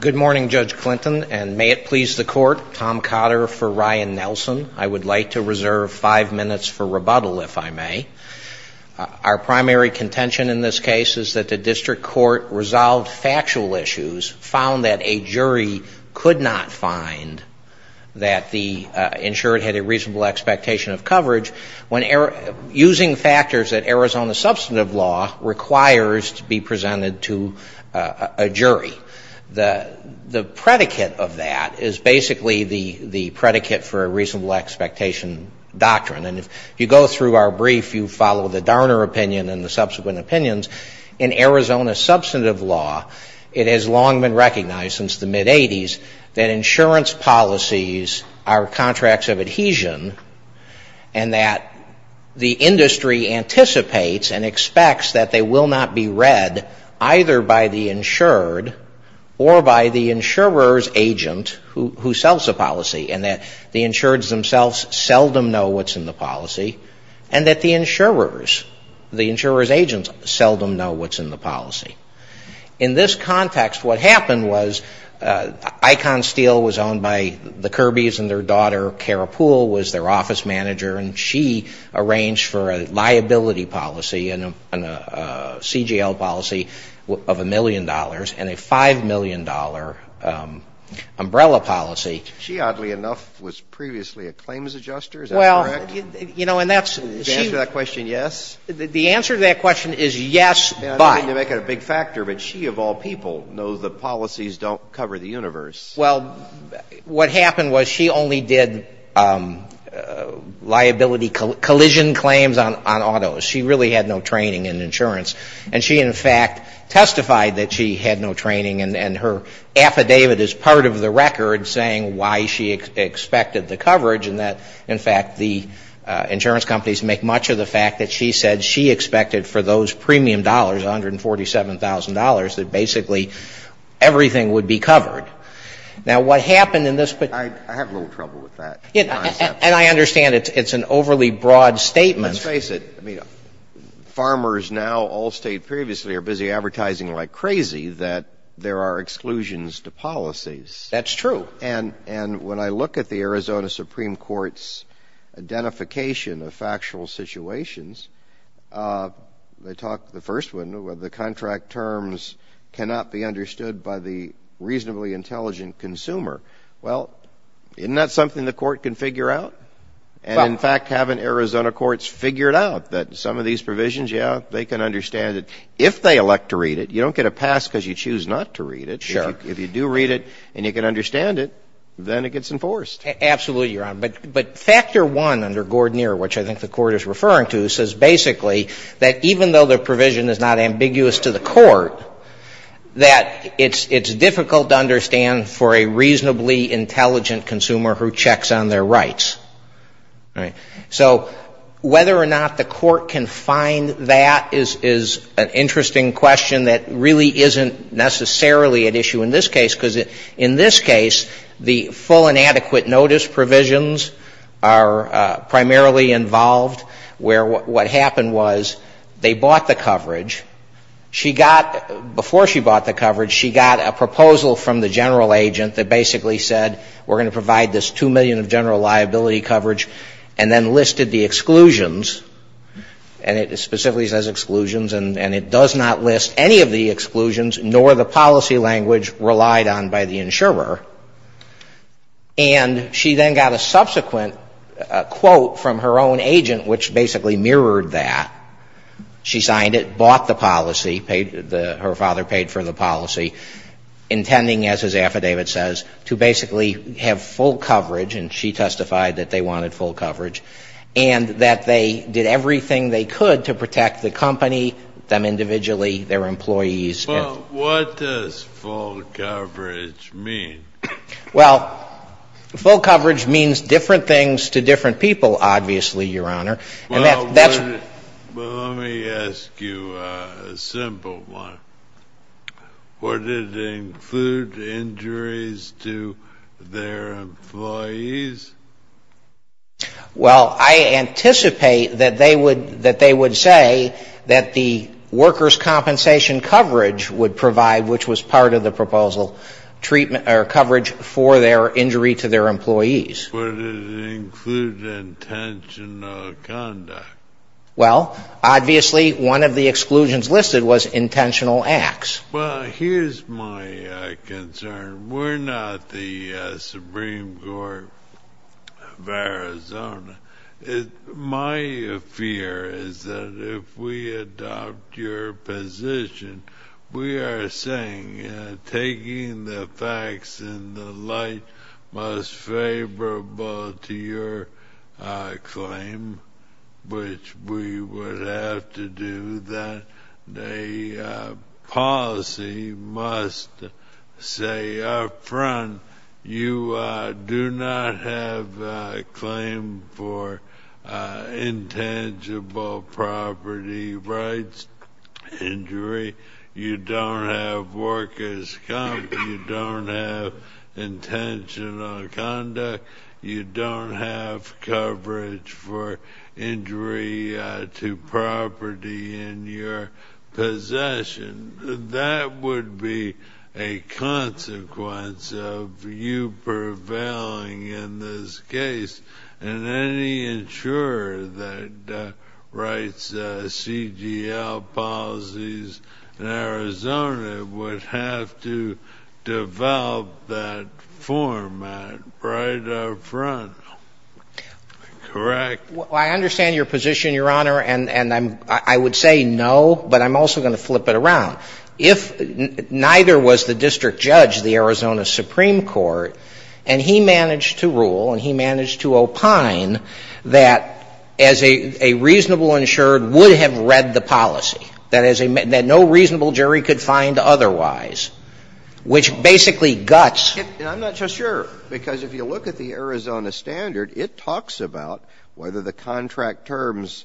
Good morning, Judge Clinton, and may it please the court, Tom Cotter for Ryan Nelson. I would like to reserve five minutes for rebuttal, if I may. Our primary contention in this case is that the district court resolved factual issues, found that a jury could not find that the insured had a reasonable expectation of coverage, using factors that Arizona substantive law requires to be presented to a jury. The predicate of that is basically the predicate for a reasonable expectation doctrine. And if you go through our brief, you follow the Darner opinion and the subsequent opinions. In Arizona substantive law, it has long been recognized since the mid-'80s that insurance policies are contracts of adhesion, and that the industry anticipates and expects that they will not be read either by the insured or by the insurer's agent who sells the policy, and that the insured themselves seldom know what's in the policy, and that the insurer's agents seldom know what's in the policy. In this context, what happened was Icon Steel was owned by the Kirbys and their daughter, Cara Poole, was their office manager, and she arranged for a liability policy and a CGL policy of a million dollars and a $5 million umbrella policy. She, oddly enough, was previously a claims adjuster. Is that correct? Well, you know, and that's... Is the answer to that question yes? The answer to that question is yes, but... I don't mean to make it a big factor, but she, of all people, knows that policies don't cover the universe. Well, what happened was she only did liability collision claims on autos. She really had no training in insurance. And she, in fact, testified that she had no training, and her affidavit is part of the record saying why she expected the coverage and that, in fact, the insurance companies make much of the fact that she said she expected for those premium dollars, $147,000, that basically everything would be covered. Now, what happened in this... I have a little trouble with that concept. And I understand it's an overly broad statement. Let's face it. I mean, farmers now all state previously are busy advertising like crazy that there are exclusions to policies. That's true. And when I look at the Arizona Supreme Court's identification of factual situations, they talk, the first one, the contract terms cannot be understood by the reasonably intelligent consumer. Well, isn't that something the court can figure out? In fact, haven't Arizona courts figured out that some of these provisions, yeah, they can understand it if they elect to read it. You don't get a pass because you choose not to read it. If you do read it and you can understand it, then it gets enforced. Absolutely, Your Honor. But factor one under Gordner, which I think the court is referring to, says basically that even though the provision is not ambiguous to the court, that it's difficult to understand for a reasonably intelligent consumer who checks on their rights. So whether or not the court can find that is an interesting question that really isn't necessarily at issue in this case because in this case the full inadequate notice provisions are primarily involved where what happened was they bought the coverage. She got, before she bought the coverage, she got a proposal from the general agent that basically said we're going to provide this 2 million of general liability coverage and then listed the exclusions, and it specifically says exclusions, and it does not list any of the exclusions nor the policy language relied on by the insurer. And she then got a subsequent quote from her own agent which basically mirrored that. She signed it, bought the policy, her father paid for the policy, intending, as his affidavit says, to basically have full coverage, and she testified that they wanted full coverage, and that they did everything they could to protect the company, them individually, their employees. Well, what does full coverage mean? Well, full coverage means different things to different people, obviously, Your Honor. Well, let me ask you a simple one. Would it include injuries to their employees? Well, I anticipate that they would say that the workers' compensation coverage would provide, which was part of the proposal, coverage for their injury to their employees. Would it include intentional conduct? Well, obviously, one of the exclusions listed was intentional acts. Well, here's my concern. We're not the Supreme Court of Arizona. My fear is that if we adopt your position, we are saying taking the facts in the light most favorable to your claim, which we would have to do that the policy must say up front, you do not have a claim for intangible property rights injury. You don't have workers' comp. You don't have intentional conduct. You don't have coverage for injury to property in your possession. That would be a consequence of you prevailing in this case, and any insurer that writes CDL policies in Arizona would have to develop that format right up front, correct? Well, I understand your position, Your Honor, and I would say no, but I'm also going to flip it around. If neither was the district judge, the Arizona Supreme Court, and he managed to rule and he managed to opine that a reasonable insured would have read the policy, that no reasonable jury could find otherwise, which basically guts. And I'm not so sure, because if you look at the Arizona standard, it talks about whether the contract terms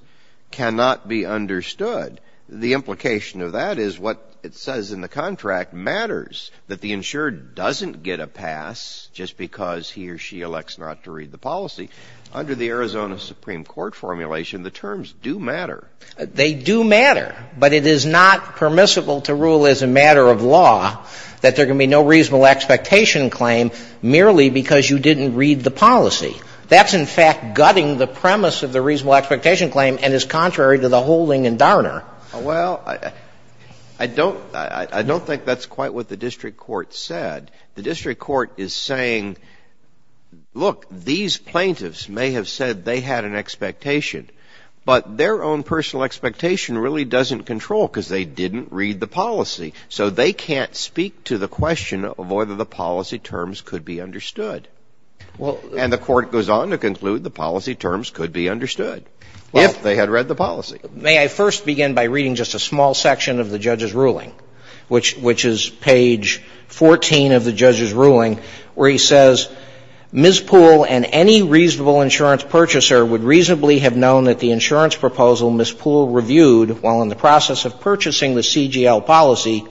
cannot be understood. The implication of that is what it says in the contract matters, that the insured doesn't get a pass just because he or she elects not to read the policy. Under the Arizona Supreme Court formulation, the terms do matter. They do matter, but it is not permissible to rule as a matter of law that there can be no reasonable expectation claim merely because you didn't read the policy. That's, in fact, gutting the premise of the reasonable expectation claim and is contrary to the holding in Darner. Well, I don't think that's quite what the district court said. The district court is saying, look, these plaintiffs may have said they had an expectation, but their own personal expectation really doesn't control because they didn't read the policy. So they can't speak to the question of whether the policy terms could be understood. And the Court goes on to conclude the policy terms could be understood if they had read the policy. May I first begin by reading just a small section of the judge's ruling, which is page 14 of the judge's ruling, where he says, Ms. Poole and any reasonable insurance purchaser would reasonably have known that the insurance proposal Ms. Poole reviewed while in the process of purchasing the CGL policy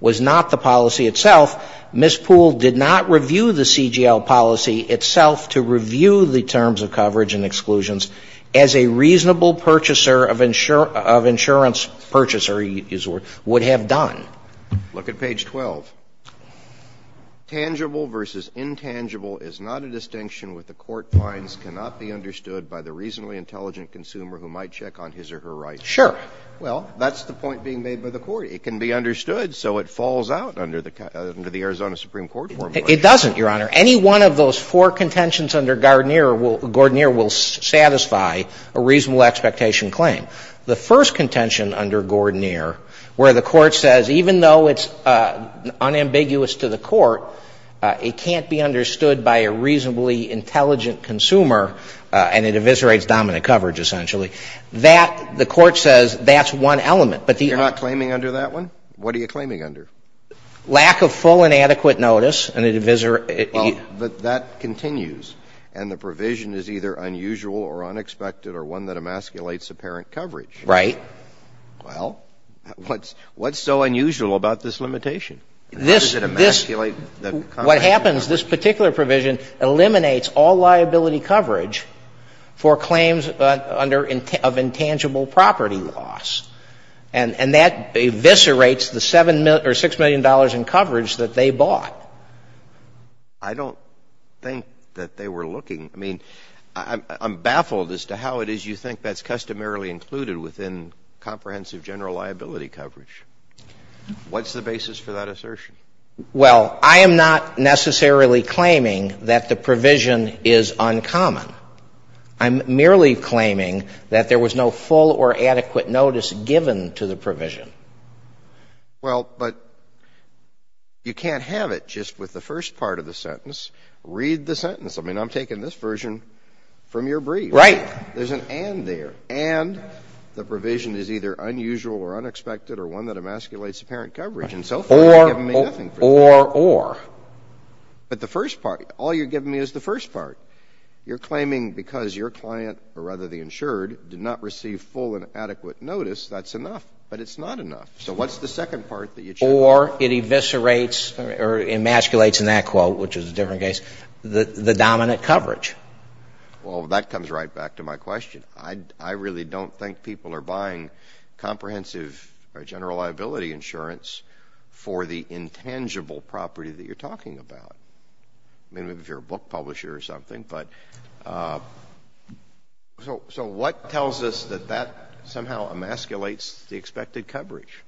was not the policy itself. Ms. Poole did not review the CGL policy itself to review the terms of coverage and exclusions as a reasonable purchaser of insurance purchaser would have done. Look at page 12. Tangible versus intangible is not a distinction with the court finds cannot be understood by the reasonably intelligent consumer who might check on his or her rights. Sure. Well, that's the point being made by the Court. It can be understood, so it falls out under the Arizona Supreme Court formula. It doesn't, Your Honor. Any one of those four contentions under Gordnier will satisfy a reasonable expectation claim. The first contention under Gordnier, where the Court says even though it's unambiguous to the Court, it can't be understood by a reasonably intelligent consumer and it eviscerates dominant coverage, essentially. That, the Court says, that's one element, but the other. You're not claiming under that one? What are you claiming under? Lack of full and adequate notice and it eviscerates. Well, but that continues, and the provision is either unusual or unexpected or one that emasculates apparent coverage. Right. Well, what's so unusual about this limitation? This, this, what happens, this particular provision eliminates all liability coverage for claims under, of intangible property loss, and that eviscerates the $7 million or $6 million in coverage that they bought. I don't think that they were looking. I mean, I'm baffled as to how it is you think that's customarily included within comprehensive general liability coverage. What's the basis for that assertion? Well, I am not necessarily claiming that the provision is uncommon. I'm merely claiming that there was no full or adequate notice given to the provision. Well, but you can't have it just with the first part of the sentence. Read the sentence. I mean, I'm taking this version from your brief. Right. There's an and there. And the provision is either unusual or unexpected or one that emasculates apparent coverage. Right. Or, or, or, or. But the first part, all you're giving me is the first part. You're claiming because your client, or rather the insured, did not receive full and adequate notice, that's enough. But it's not enough. So what's the second part that you're saying? Or it eviscerates or emasculates, in that quote, which is a different case, the, the dominant coverage. Well, that comes right back to my question. I, I really don't think people are buying comprehensive or general liability insurance for the intangible property that you're talking about. I mean, if you're a book publisher or something. But so, so what tells us that that somehow emasculates the expected coverage?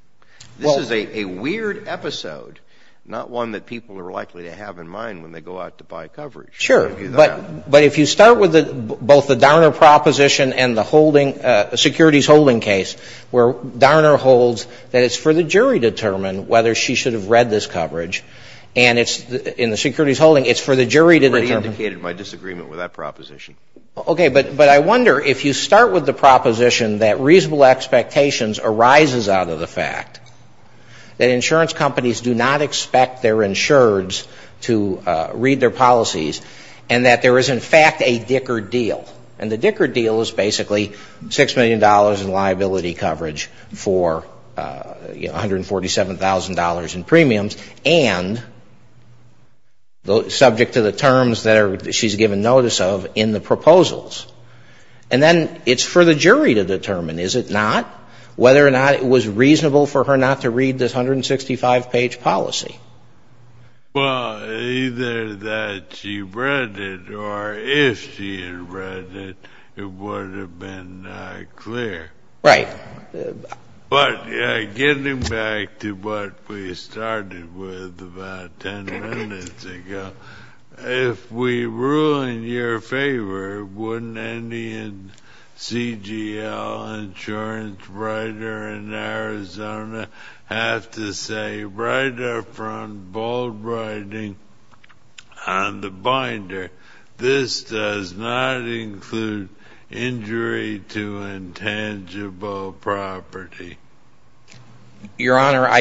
This is a, a weird episode, not one that people are likely to have in mind when they go out to buy coverage. Sure. But, but if you start with the, both the Darner proposition and the holding, securities holding case, where Darner holds that it's for the jury to determine whether she should have read this coverage. And it's, in the securities holding, it's for the jury to determine. You've already indicated my disagreement with that proposition. Okay. But, but I wonder, if you start with the proposition that reasonable expectations arises out of the fact that insurance companies do not expect their insureds to read their policies, and that there is, in fact, a Dicker deal. And the Dicker deal is basically $6 million in liability coverage for, you know, $147,000 in premiums, and subject to the terms that she's given notice of in the proposals. And then it's for the jury to determine, is it not? Whether or not it was reasonable for her not to read this 165-page policy. Well, either that she read it, or if she had read it, it would have been clear. Right. But getting back to what we started with about 10 minutes ago, if we rule in your honor, I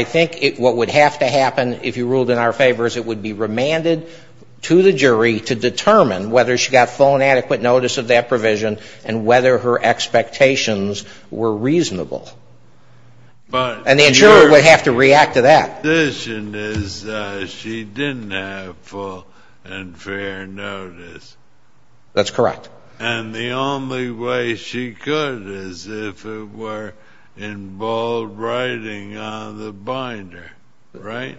think what would have to happen, if you ruled in our favor, is it would be remanded to the jury to determine whether she got full and adequate notice of that provision, and whether her expectations were reasonable. And the insurer would have to react to that. Because she didn't have full and fair notice. That's correct. And the only way she could is if it were in bold writing on the binder. Right?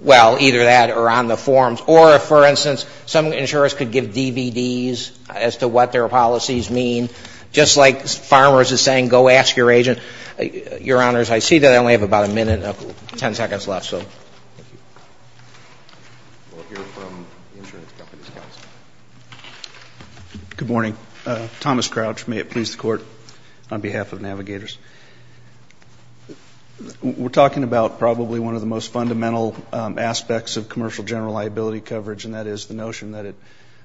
Well, either that or on the forms. Or, for instance, some insurers could give DVDs as to what their policies mean, just like Farmers is saying, go ask your agent. Your honors, I see that I only have about a minute, 10 seconds left. We'll hear from the insurance company's counsel. Good morning. Thomas Crouch. May it please the Court, on behalf of Navigators. We're talking about probably one of the most fundamental aspects of commercial general liability coverage, and that is the notion that it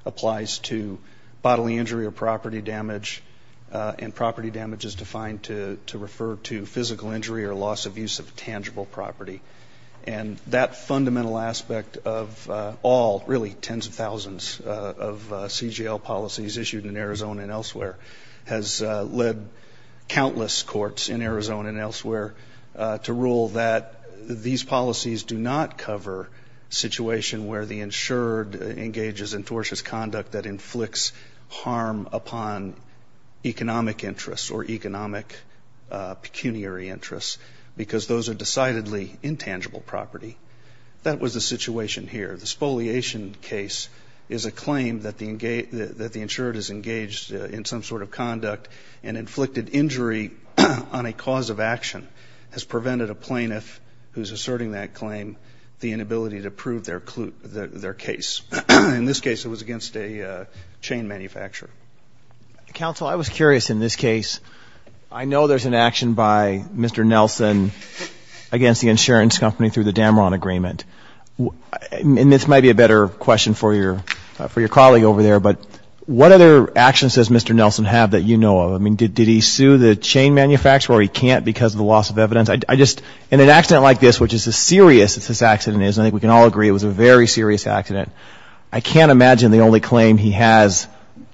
applies to bodily injury or property damage, and property damage is defined to refer to physical injury or loss of use of tangible property. And that fundamental aspect of all, really, tens of thousands of CGL policies issued in Arizona and elsewhere has led countless courts in Arizona and elsewhere to rule that these policies do not cover a situation where the insured engages in tortuous conduct that inflicts harm upon economic interests or economic pecuniary interests, because those are decidedly intangible property. That was the situation here. The spoliation case is a claim that the insured is engaged in some sort of conduct and inflicted injury on a cause of action has prevented a plaintiff who is asserting that claim the inability to prove their case. In this case, it was against a chain manufacturer. Counsel, I was curious, in this case, I know there's an action by Mr. Nelson against the insurance company through the Dameron Agreement, and this might be a better question for your colleague over there, but what other actions does Mr. Nelson have that you know of? I mean, did he sue the chain manufacturer or he can't because of the loss of evidence? I just, in an accident like this, which is as serious as this accident is, and I think we can all agree it was a very serious accident, I can't imagine the only claim he has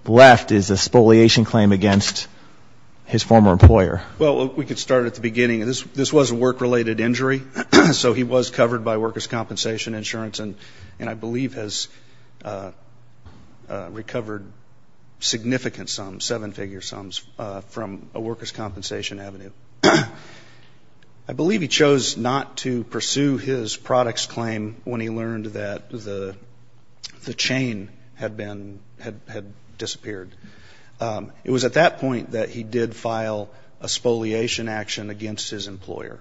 left is a spoliation claim against his former employer. Well, we could start at the beginning. This was a work-related injury, so he was covered by workers' compensation insurance and I believe has recovered significant sums, seven-figure sums, from a workers' compensation avenue. I believe he chose not to pursue his products claim when he learned that the chain had been, had disappeared. It was at that point that he did file a spoliation action against his employer,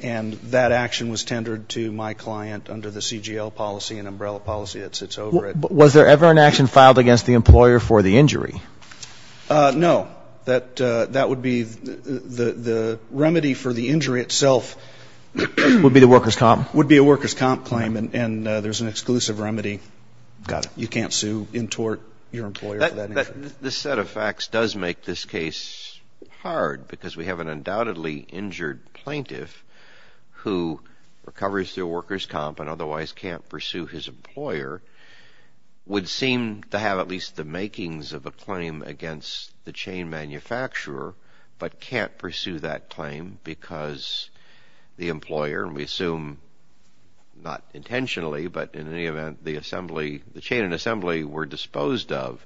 and that action was tendered to my client under the CGL policy and umbrella policy that sits over it. Was there ever an action filed against the employer for the injury? No. That would be the remedy for the injury itself. Would be the workers' comp? Would be a workers' comp claim, and there's an exclusive remedy. Got it. You can't sue in tort your employer for that injury. This set of facts does make this case hard because we have an undoubtedly injured plaintiff who recovers through workers' comp and otherwise can't pursue his employer, would seem to have at least the makings of a claim against the chain manufacturer, but can't pursue that claim because the employer, and we assume not intentionally, but in any event, the assembly, the chain and assembly were disposed of.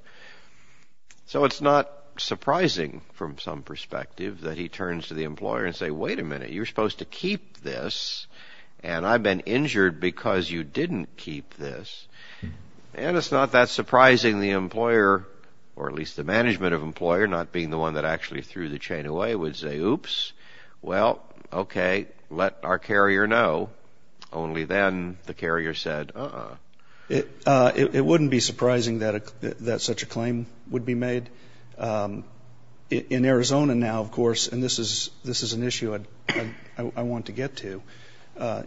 So it's not surprising from some perspective that he turns to the employer and says, wait a minute, you're supposed to keep this, and I've been injured because you didn't keep this. And it's not that surprising the employer, or at least the management of the employer, not being the one that actually threw the chain away, would say, oops, well, okay, let our carrier know. Only then the carrier said, uh-uh. It wouldn't be surprising that such a claim would be made. In Arizona now, of course, and this is an issue I want to get to,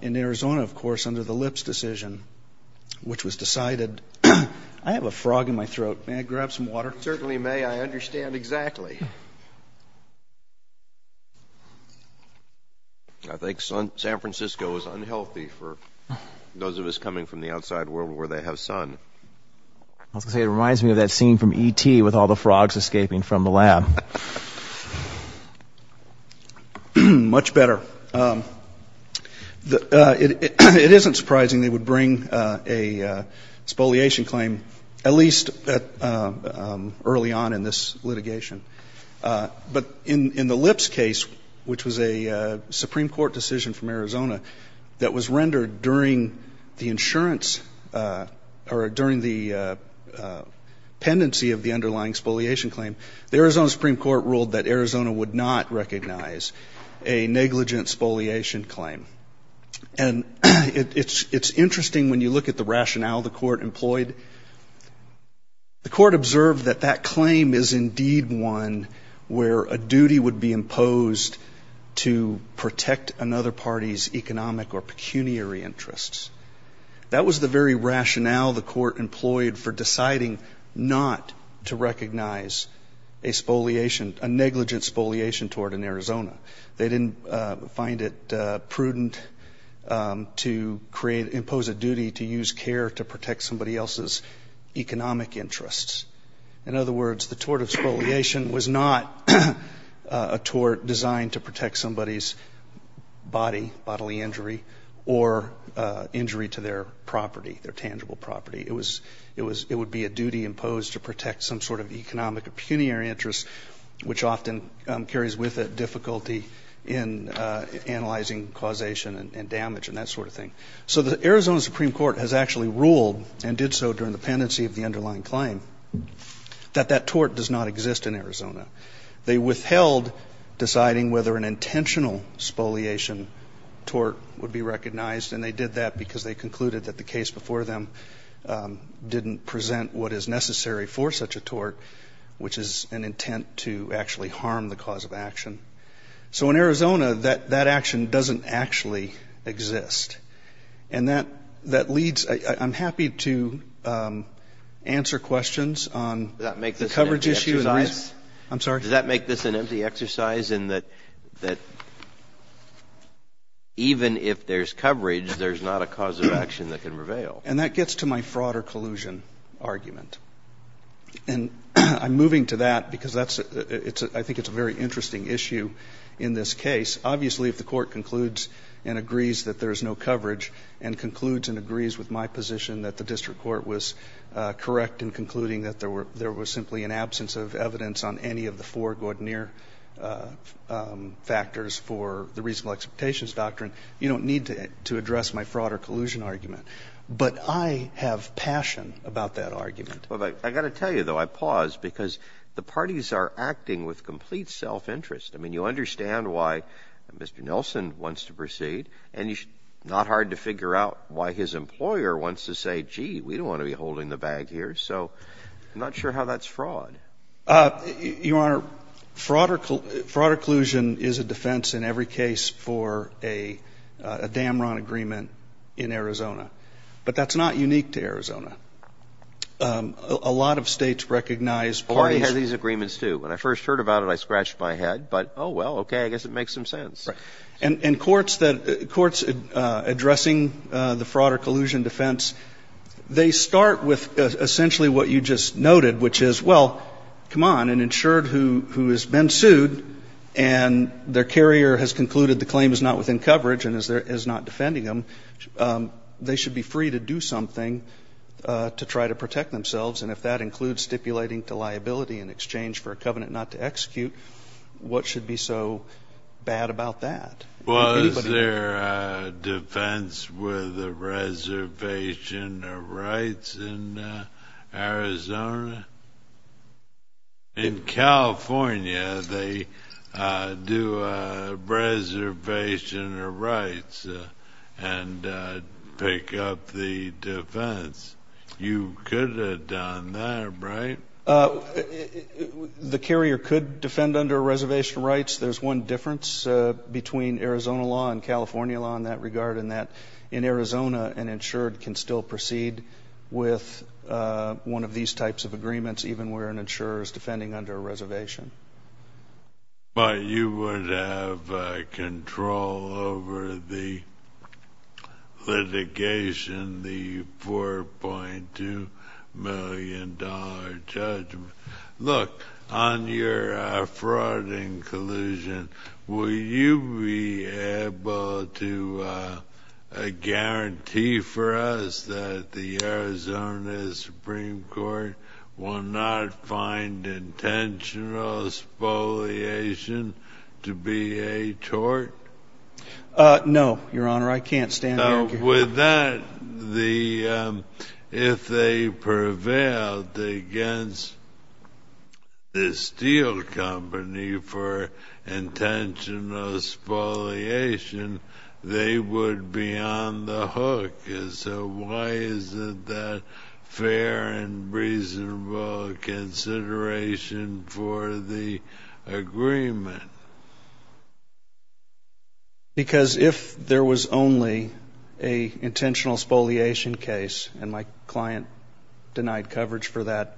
in Arizona, of course, which was decided. I have a frog in my throat. May I grab some water? Certainly may. I understand exactly. I think San Francisco is unhealthy for those of us coming from the outside world where they have sun. I was going to say, it reminds me of that scene from E.T. with all the frogs escaping from the lab. Much better. But it isn't surprising they would bring a spoliation claim, at least early on in this litigation. But in the Lips case, which was a Supreme Court decision from Arizona that was rendered during the insurance or during the pendency of the underlying spoliation claim, the Arizona Supreme Court ruled that Arizona would not recognize a negligent spoliation claim. And it's interesting when you look at the rationale the court employed. The court observed that that claim is indeed one where a duty would be imposed to protect another party's economic or pecuniary interests. That was the very rationale the court employed for deciding not to recognize a spoliation, a negligent spoliation tort in Arizona. They didn't find it prudent to create, impose a duty to use care to protect somebody else's economic interests. In other words, the tort of spoliation was not a tort designed to protect somebody's body, bodily injury, or injury to their property, their tangible property. It would be a duty imposed to protect some sort of economic or pecuniary interest, which often carries with it difficulty in analyzing causation and damage and that sort of thing. So the Arizona Supreme Court has actually ruled, and did so during the pendency of the underlying claim, that that tort does not exist in Arizona. They withheld deciding whether an intentional spoliation tort would be recognized. And they did that because they concluded that the case before them didn't present what is necessary for such a tort, which is an intent to actually harm the cause of action. So in Arizona, that action doesn't actually exist. And that leads to – I'm happy to answer questions on the coverage issue. I'm sorry? Does that make this an empty exercise in that even if there's coverage, there's not a cause of action that can prevail? And that gets to my fraud or collusion argument. And I'm moving to that because that's – I think it's a very interesting issue in this case. Obviously, if the Court concludes and agrees that there's no coverage and concludes and agrees with my position that the district court was correct in concluding that there were – there was simply an absence of evidence on any of the four gaudenir factors for the reasonable expectations doctrine, you don't need to address my fraud or collusion argument. But I have passion about that argument. I've got to tell you, though, I pause because the parties are acting with complete self-interest. I mean, you understand why Mr. Nelson wants to proceed, and it's not hard to figure out why his employer wants to say, gee, we don't want to be holding the bag here. So I'm not sure how that's fraud. Your Honor, fraud or collusion is a defense in every case for a Damron agreement in Arizona. But that's not unique to Arizona. A lot of States recognize parties. Oh, I had these agreements, too. When I first heard about it, I scratched my head. But, oh, well, okay, I guess it makes some sense. Right. And courts that – courts addressing the fraud or collusion defense, they start with essentially what you just noted, which is, well, come on, an insured who has been sued and their carrier has concluded the claim is not within coverage and is not defending them, they should be free to do something to try to protect themselves. And if that includes stipulating to liability in exchange for a covenant not to execute, what should be so bad about that? Was there a defense with a reservation of rights in Arizona? In California, they do a reservation of rights and pick up the defense. You could have done that, right? The carrier could defend under a reservation of rights. I guess there's one difference between Arizona law and California law in that regard in that in Arizona, an insured can still proceed with one of these types of agreements, even where an insurer is defending under a reservation. But you would have control over the litigation, the $4.2 million judgment. Look, on your fraud and collusion, will you be able to guarantee for us that the Arizona Supreme Court will not find intentional spoliation to be a tort? No, Your Honor, I can't stand here. Well, with that, if they prevailed against the steel company for intentional spoliation, they would be on the hook. So why is it that fair and reasonable consideration for the agreement? Because if there was only an intentional spoliation case, and my client denied coverage for that,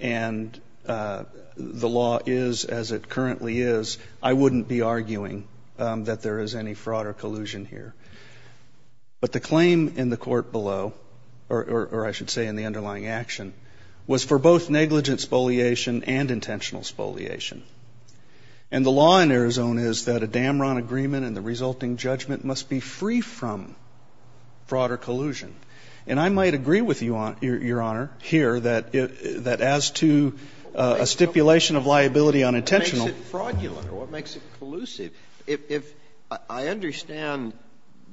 and the law is as it currently is, I wouldn't be arguing that there is any fraud or collusion here. But the claim in the court below, or I should say in the underlying action, was for both negligent spoliation and intentional spoliation. And the law in Arizona is that a Damron agreement and the resulting judgment must be free from fraud or collusion. And I might agree with you, Your Honor, here, that as to a stipulation of liability on intentional ---- What makes it fraudulent? What makes it collusive? If I understand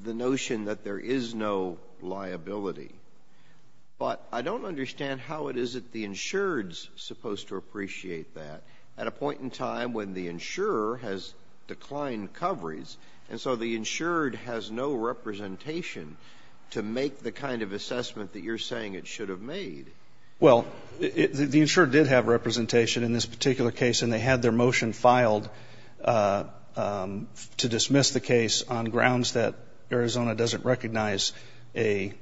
the notion that there is no liability, but I don't understand how it is that the insured is supposed to appreciate that at a point in time when the insurer has declined coverage. And so the insured has no representation to make the kind of assessment that you're saying it should have made. Well, the insured did have representation in this particular case, and they had their motion filed to dismiss the case on grounds that Arizona doesn't recognize a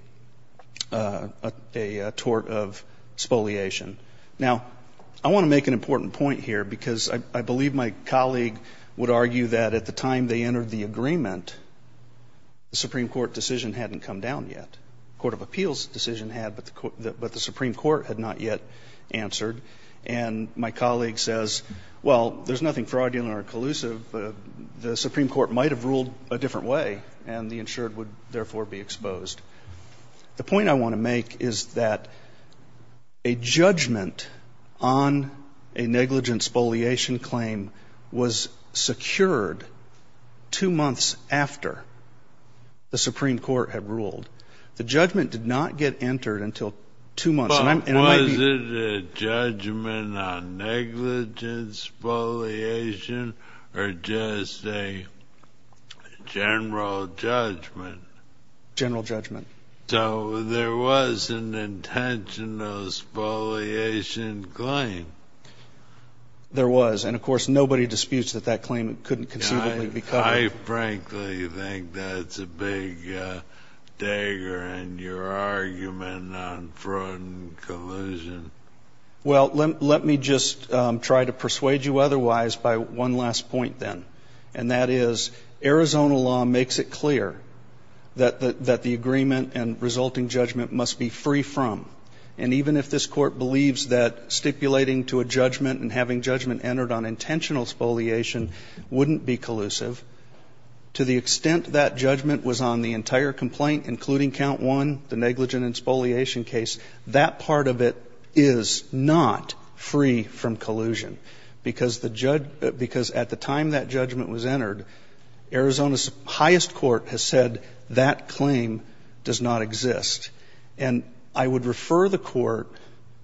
tort of spoliation. Now, I want to make an important point here, because I believe my colleague would argue that at the time they entered the agreement, the Supreme Court decision hadn't come down yet. The Court of Appeals decision had, but the Supreme Court had not yet answered. And my colleague says, well, there's nothing fraudulent or collusive. The Supreme Court might have ruled a different way, and the insured would therefore be exposed. The point I want to make is that a judgment on a negligence spoliation claim was secured two months after the Supreme Court had ruled. The judgment did not get entered until two months. Well, was it a judgment on negligence spoliation or just a general judgment? General judgment. So there was an intentional spoliation claim. There was. And, of course, nobody disputes that that claim couldn't conceivably be covered. I frankly think that's a big dagger in your argument on fraud and collusion. Well, let me just try to persuade you otherwise by one last point then, and that is Arizona law makes it clear that the agreement and resulting judgment must be free from. And even if this Court believes that stipulating to a judgment and having judgment entered on intentional spoliation wouldn't be collusive, to the extent that judgment was on the entire complaint, including count one, the negligent and spoliation case, that part of it is not free from collusion because at the time that judgment was entered, Arizona's highest court has said that claim does not exist. And I would refer the Court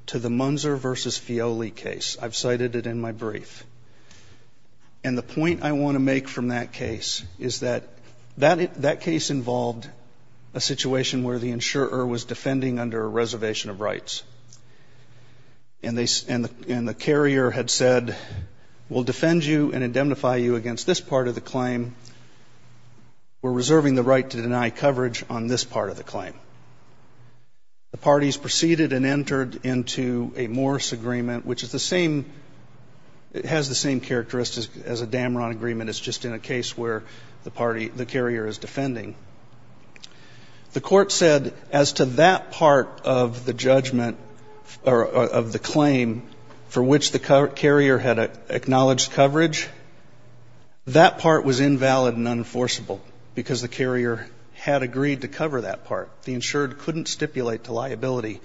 to the Munzer v. Fioli case. I've cited it in my brief. And the point I want to make from that case is that that case involved a situation where the insurer was defending under a reservation of rights, and the carrier had said, we'll defend you and indemnify you against this part of the claim. We're reserving the right to deny coverage on this part of the claim. The parties proceeded and entered into a Morse agreement, which has the same characteristics as a Dameron agreement, it's just in a case where the carrier is defending. The Court said as to that part of the judgment or of the claim for which the carrier had acknowledged coverage, that part was invalid and unenforceable because the carrier had agreed to cover that part. The insured couldn't stipulate to liability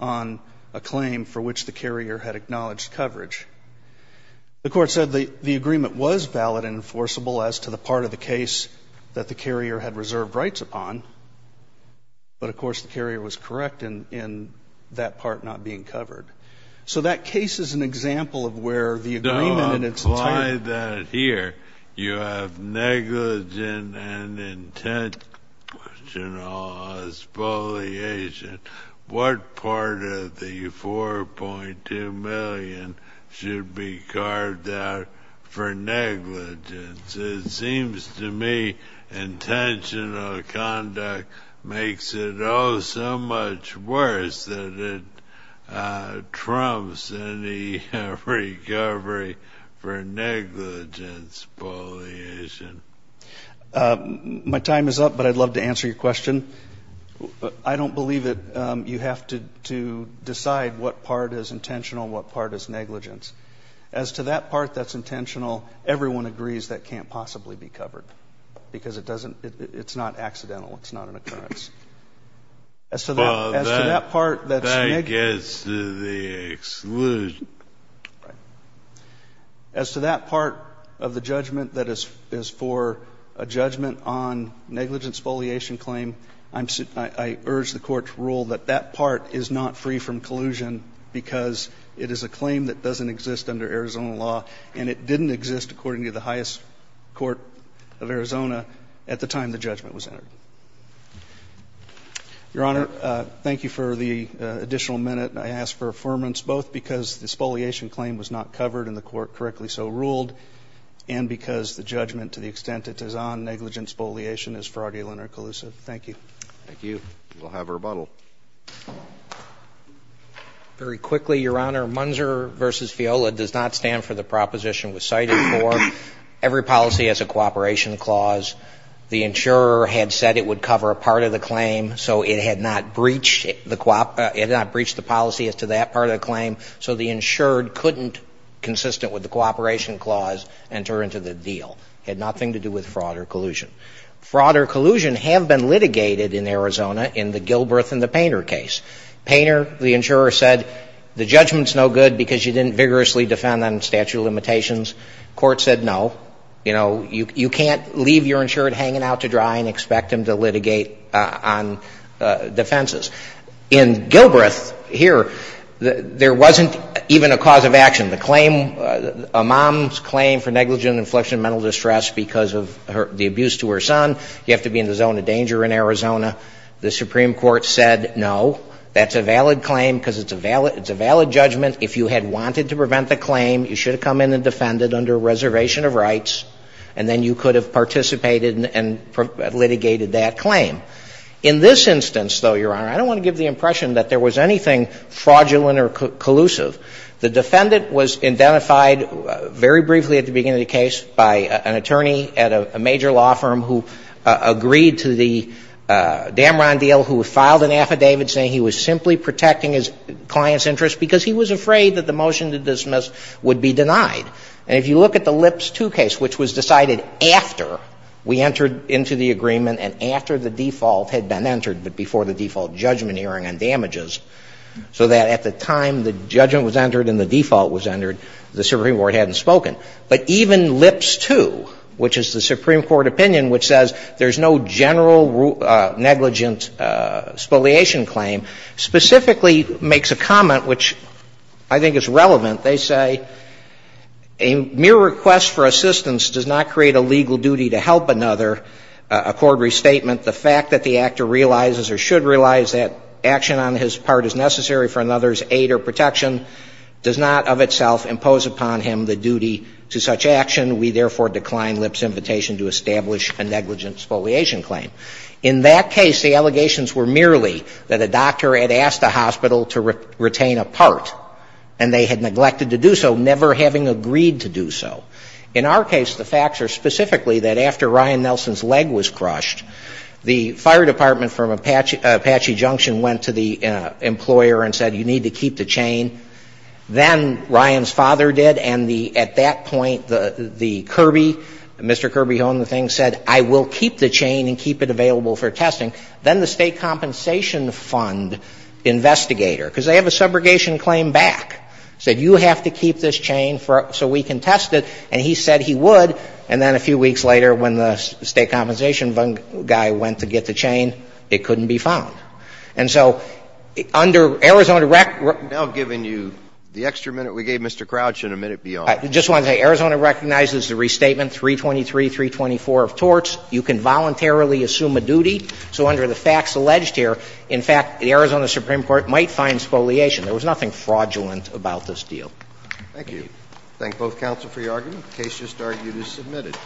on a claim for which the carrier had acknowledged coverage. The Court said the agreement was valid and enforceable as to the part of the case that the carrier had reserved rights upon, but of course the carrier was correct in that part not being covered. So that case is an example of where the agreement in its entirety. If you apply that here, you have negligent and intentional expoliation. What part of the $4.2 million should be carved out for negligence? It seems to me intentional conduct makes it all so much worse that it trumps any recovery for negligence expoliation. My time is up, but I'd love to answer your question. I don't believe that you have to decide what part is intentional and what part is negligence. As to that part that's intentional, everyone agrees that can't possibly be covered As to that part of the judgment that is for a judgment on negligence expoliation claim, I urge the Court to rule that that part is not free from collusion because it is a claim that doesn't exist under Arizona law, and it didn't exist according to the highest court of Arizona at the time the judgment was entered. Your Honor, thank you for the additional minute. I ask for affirmance, both because the expoliation claim was not covered and the Court correctly so ruled, and because the judgment to the extent it is on negligent expoliation is fraudulent or collusive. Thank you. Thank you. We'll have rebuttal. Very quickly, Your Honor, Munzer v. Fiola does not stand for the proposition cited before. Every policy has a cooperation clause. The insurer had said it would cover a part of the claim, so it had not breached the policy as to that part of the claim. So the insured couldn't, consistent with the cooperation clause, enter into the deal. It had nothing to do with fraud or collusion. Fraud or collusion have been litigated in Arizona in the Gilbreth and the Painter case. Painter, the insurer, said the judgment is no good because you didn't vigorously defend on statute of limitations. The Court said no. You know, you can't leave your insured hanging out to dry and expect him to litigate on defenses. In Gilbreth, here, there wasn't even a cause of action. The claim, a mom's claim for negligent infliction of mental distress because of the abuse to her son, you have to be in the zone of danger in Arizona. The Supreme Court said no. That's a valid claim because it's a valid judgment. If you had wanted to prevent the claim, you should have come in and defended under a reservation of rights, and then you could have participated and litigated that claim. In this instance, though, Your Honor, I don't want to give the impression that there was anything fraudulent or collusive. The defendant was identified very briefly at the beginning of the case by an attorney at a major law firm who agreed to the Damron deal, who filed an affidavit saying he was simply protecting his client's interests because he was afraid that the motion to dismiss would be denied. And if you look at the Lips 2 case, which was decided after we entered into the agreement and after the default had been entered, but before the default judgment hearing on damages, so that at the time the judgment was entered and the default was entered, the Supreme Court hadn't spoken. But even Lips 2, which is the Supreme Court opinion which says there's no general negligent spoliation claim, specifically makes a comment which I think is relevant. They say, A mere request for assistance does not create a legal duty to help another. Accord restatement, the fact that the actor realizes or should realize that action on his part is necessary for another's aid or protection does not of itself impose upon him the duty to such action. We therefore decline Lips' invitation to establish a negligent spoliation claim. In that case, the allegations were merely that a doctor had asked a hospital to retain a part, and they had neglected to do so, never having agreed to do so. In our case, the facts are specifically that after Ryan Nelson's leg was crushed, the fire department from Apache Junction went to the employer and said you need to keep the chain. Then Ryan's father did, and at that point the Kirby, Mr. Kirby Hohn, the thing, said I will keep the chain and keep it available for testing. Then the State Compensation Fund investigator, because they have a subrogation claim back, said you have to keep this chain so we can test it. And he said he would. And then a few weeks later when the State Compensation Fund guy went to get the chain, it couldn't be found. And so under Arizona Rec ---- Now giving you the extra minute we gave Mr. Crouch and a minute beyond. I just want to say Arizona recognizes the restatement 323, 324 of torts. You can voluntarily assume a duty. So under the facts alleged here, in fact, the Arizona Supreme Court might find spoliation. There was nothing fraudulent about this deal. Thank you. Thank both counsel for your argument. The case just argued is submitted.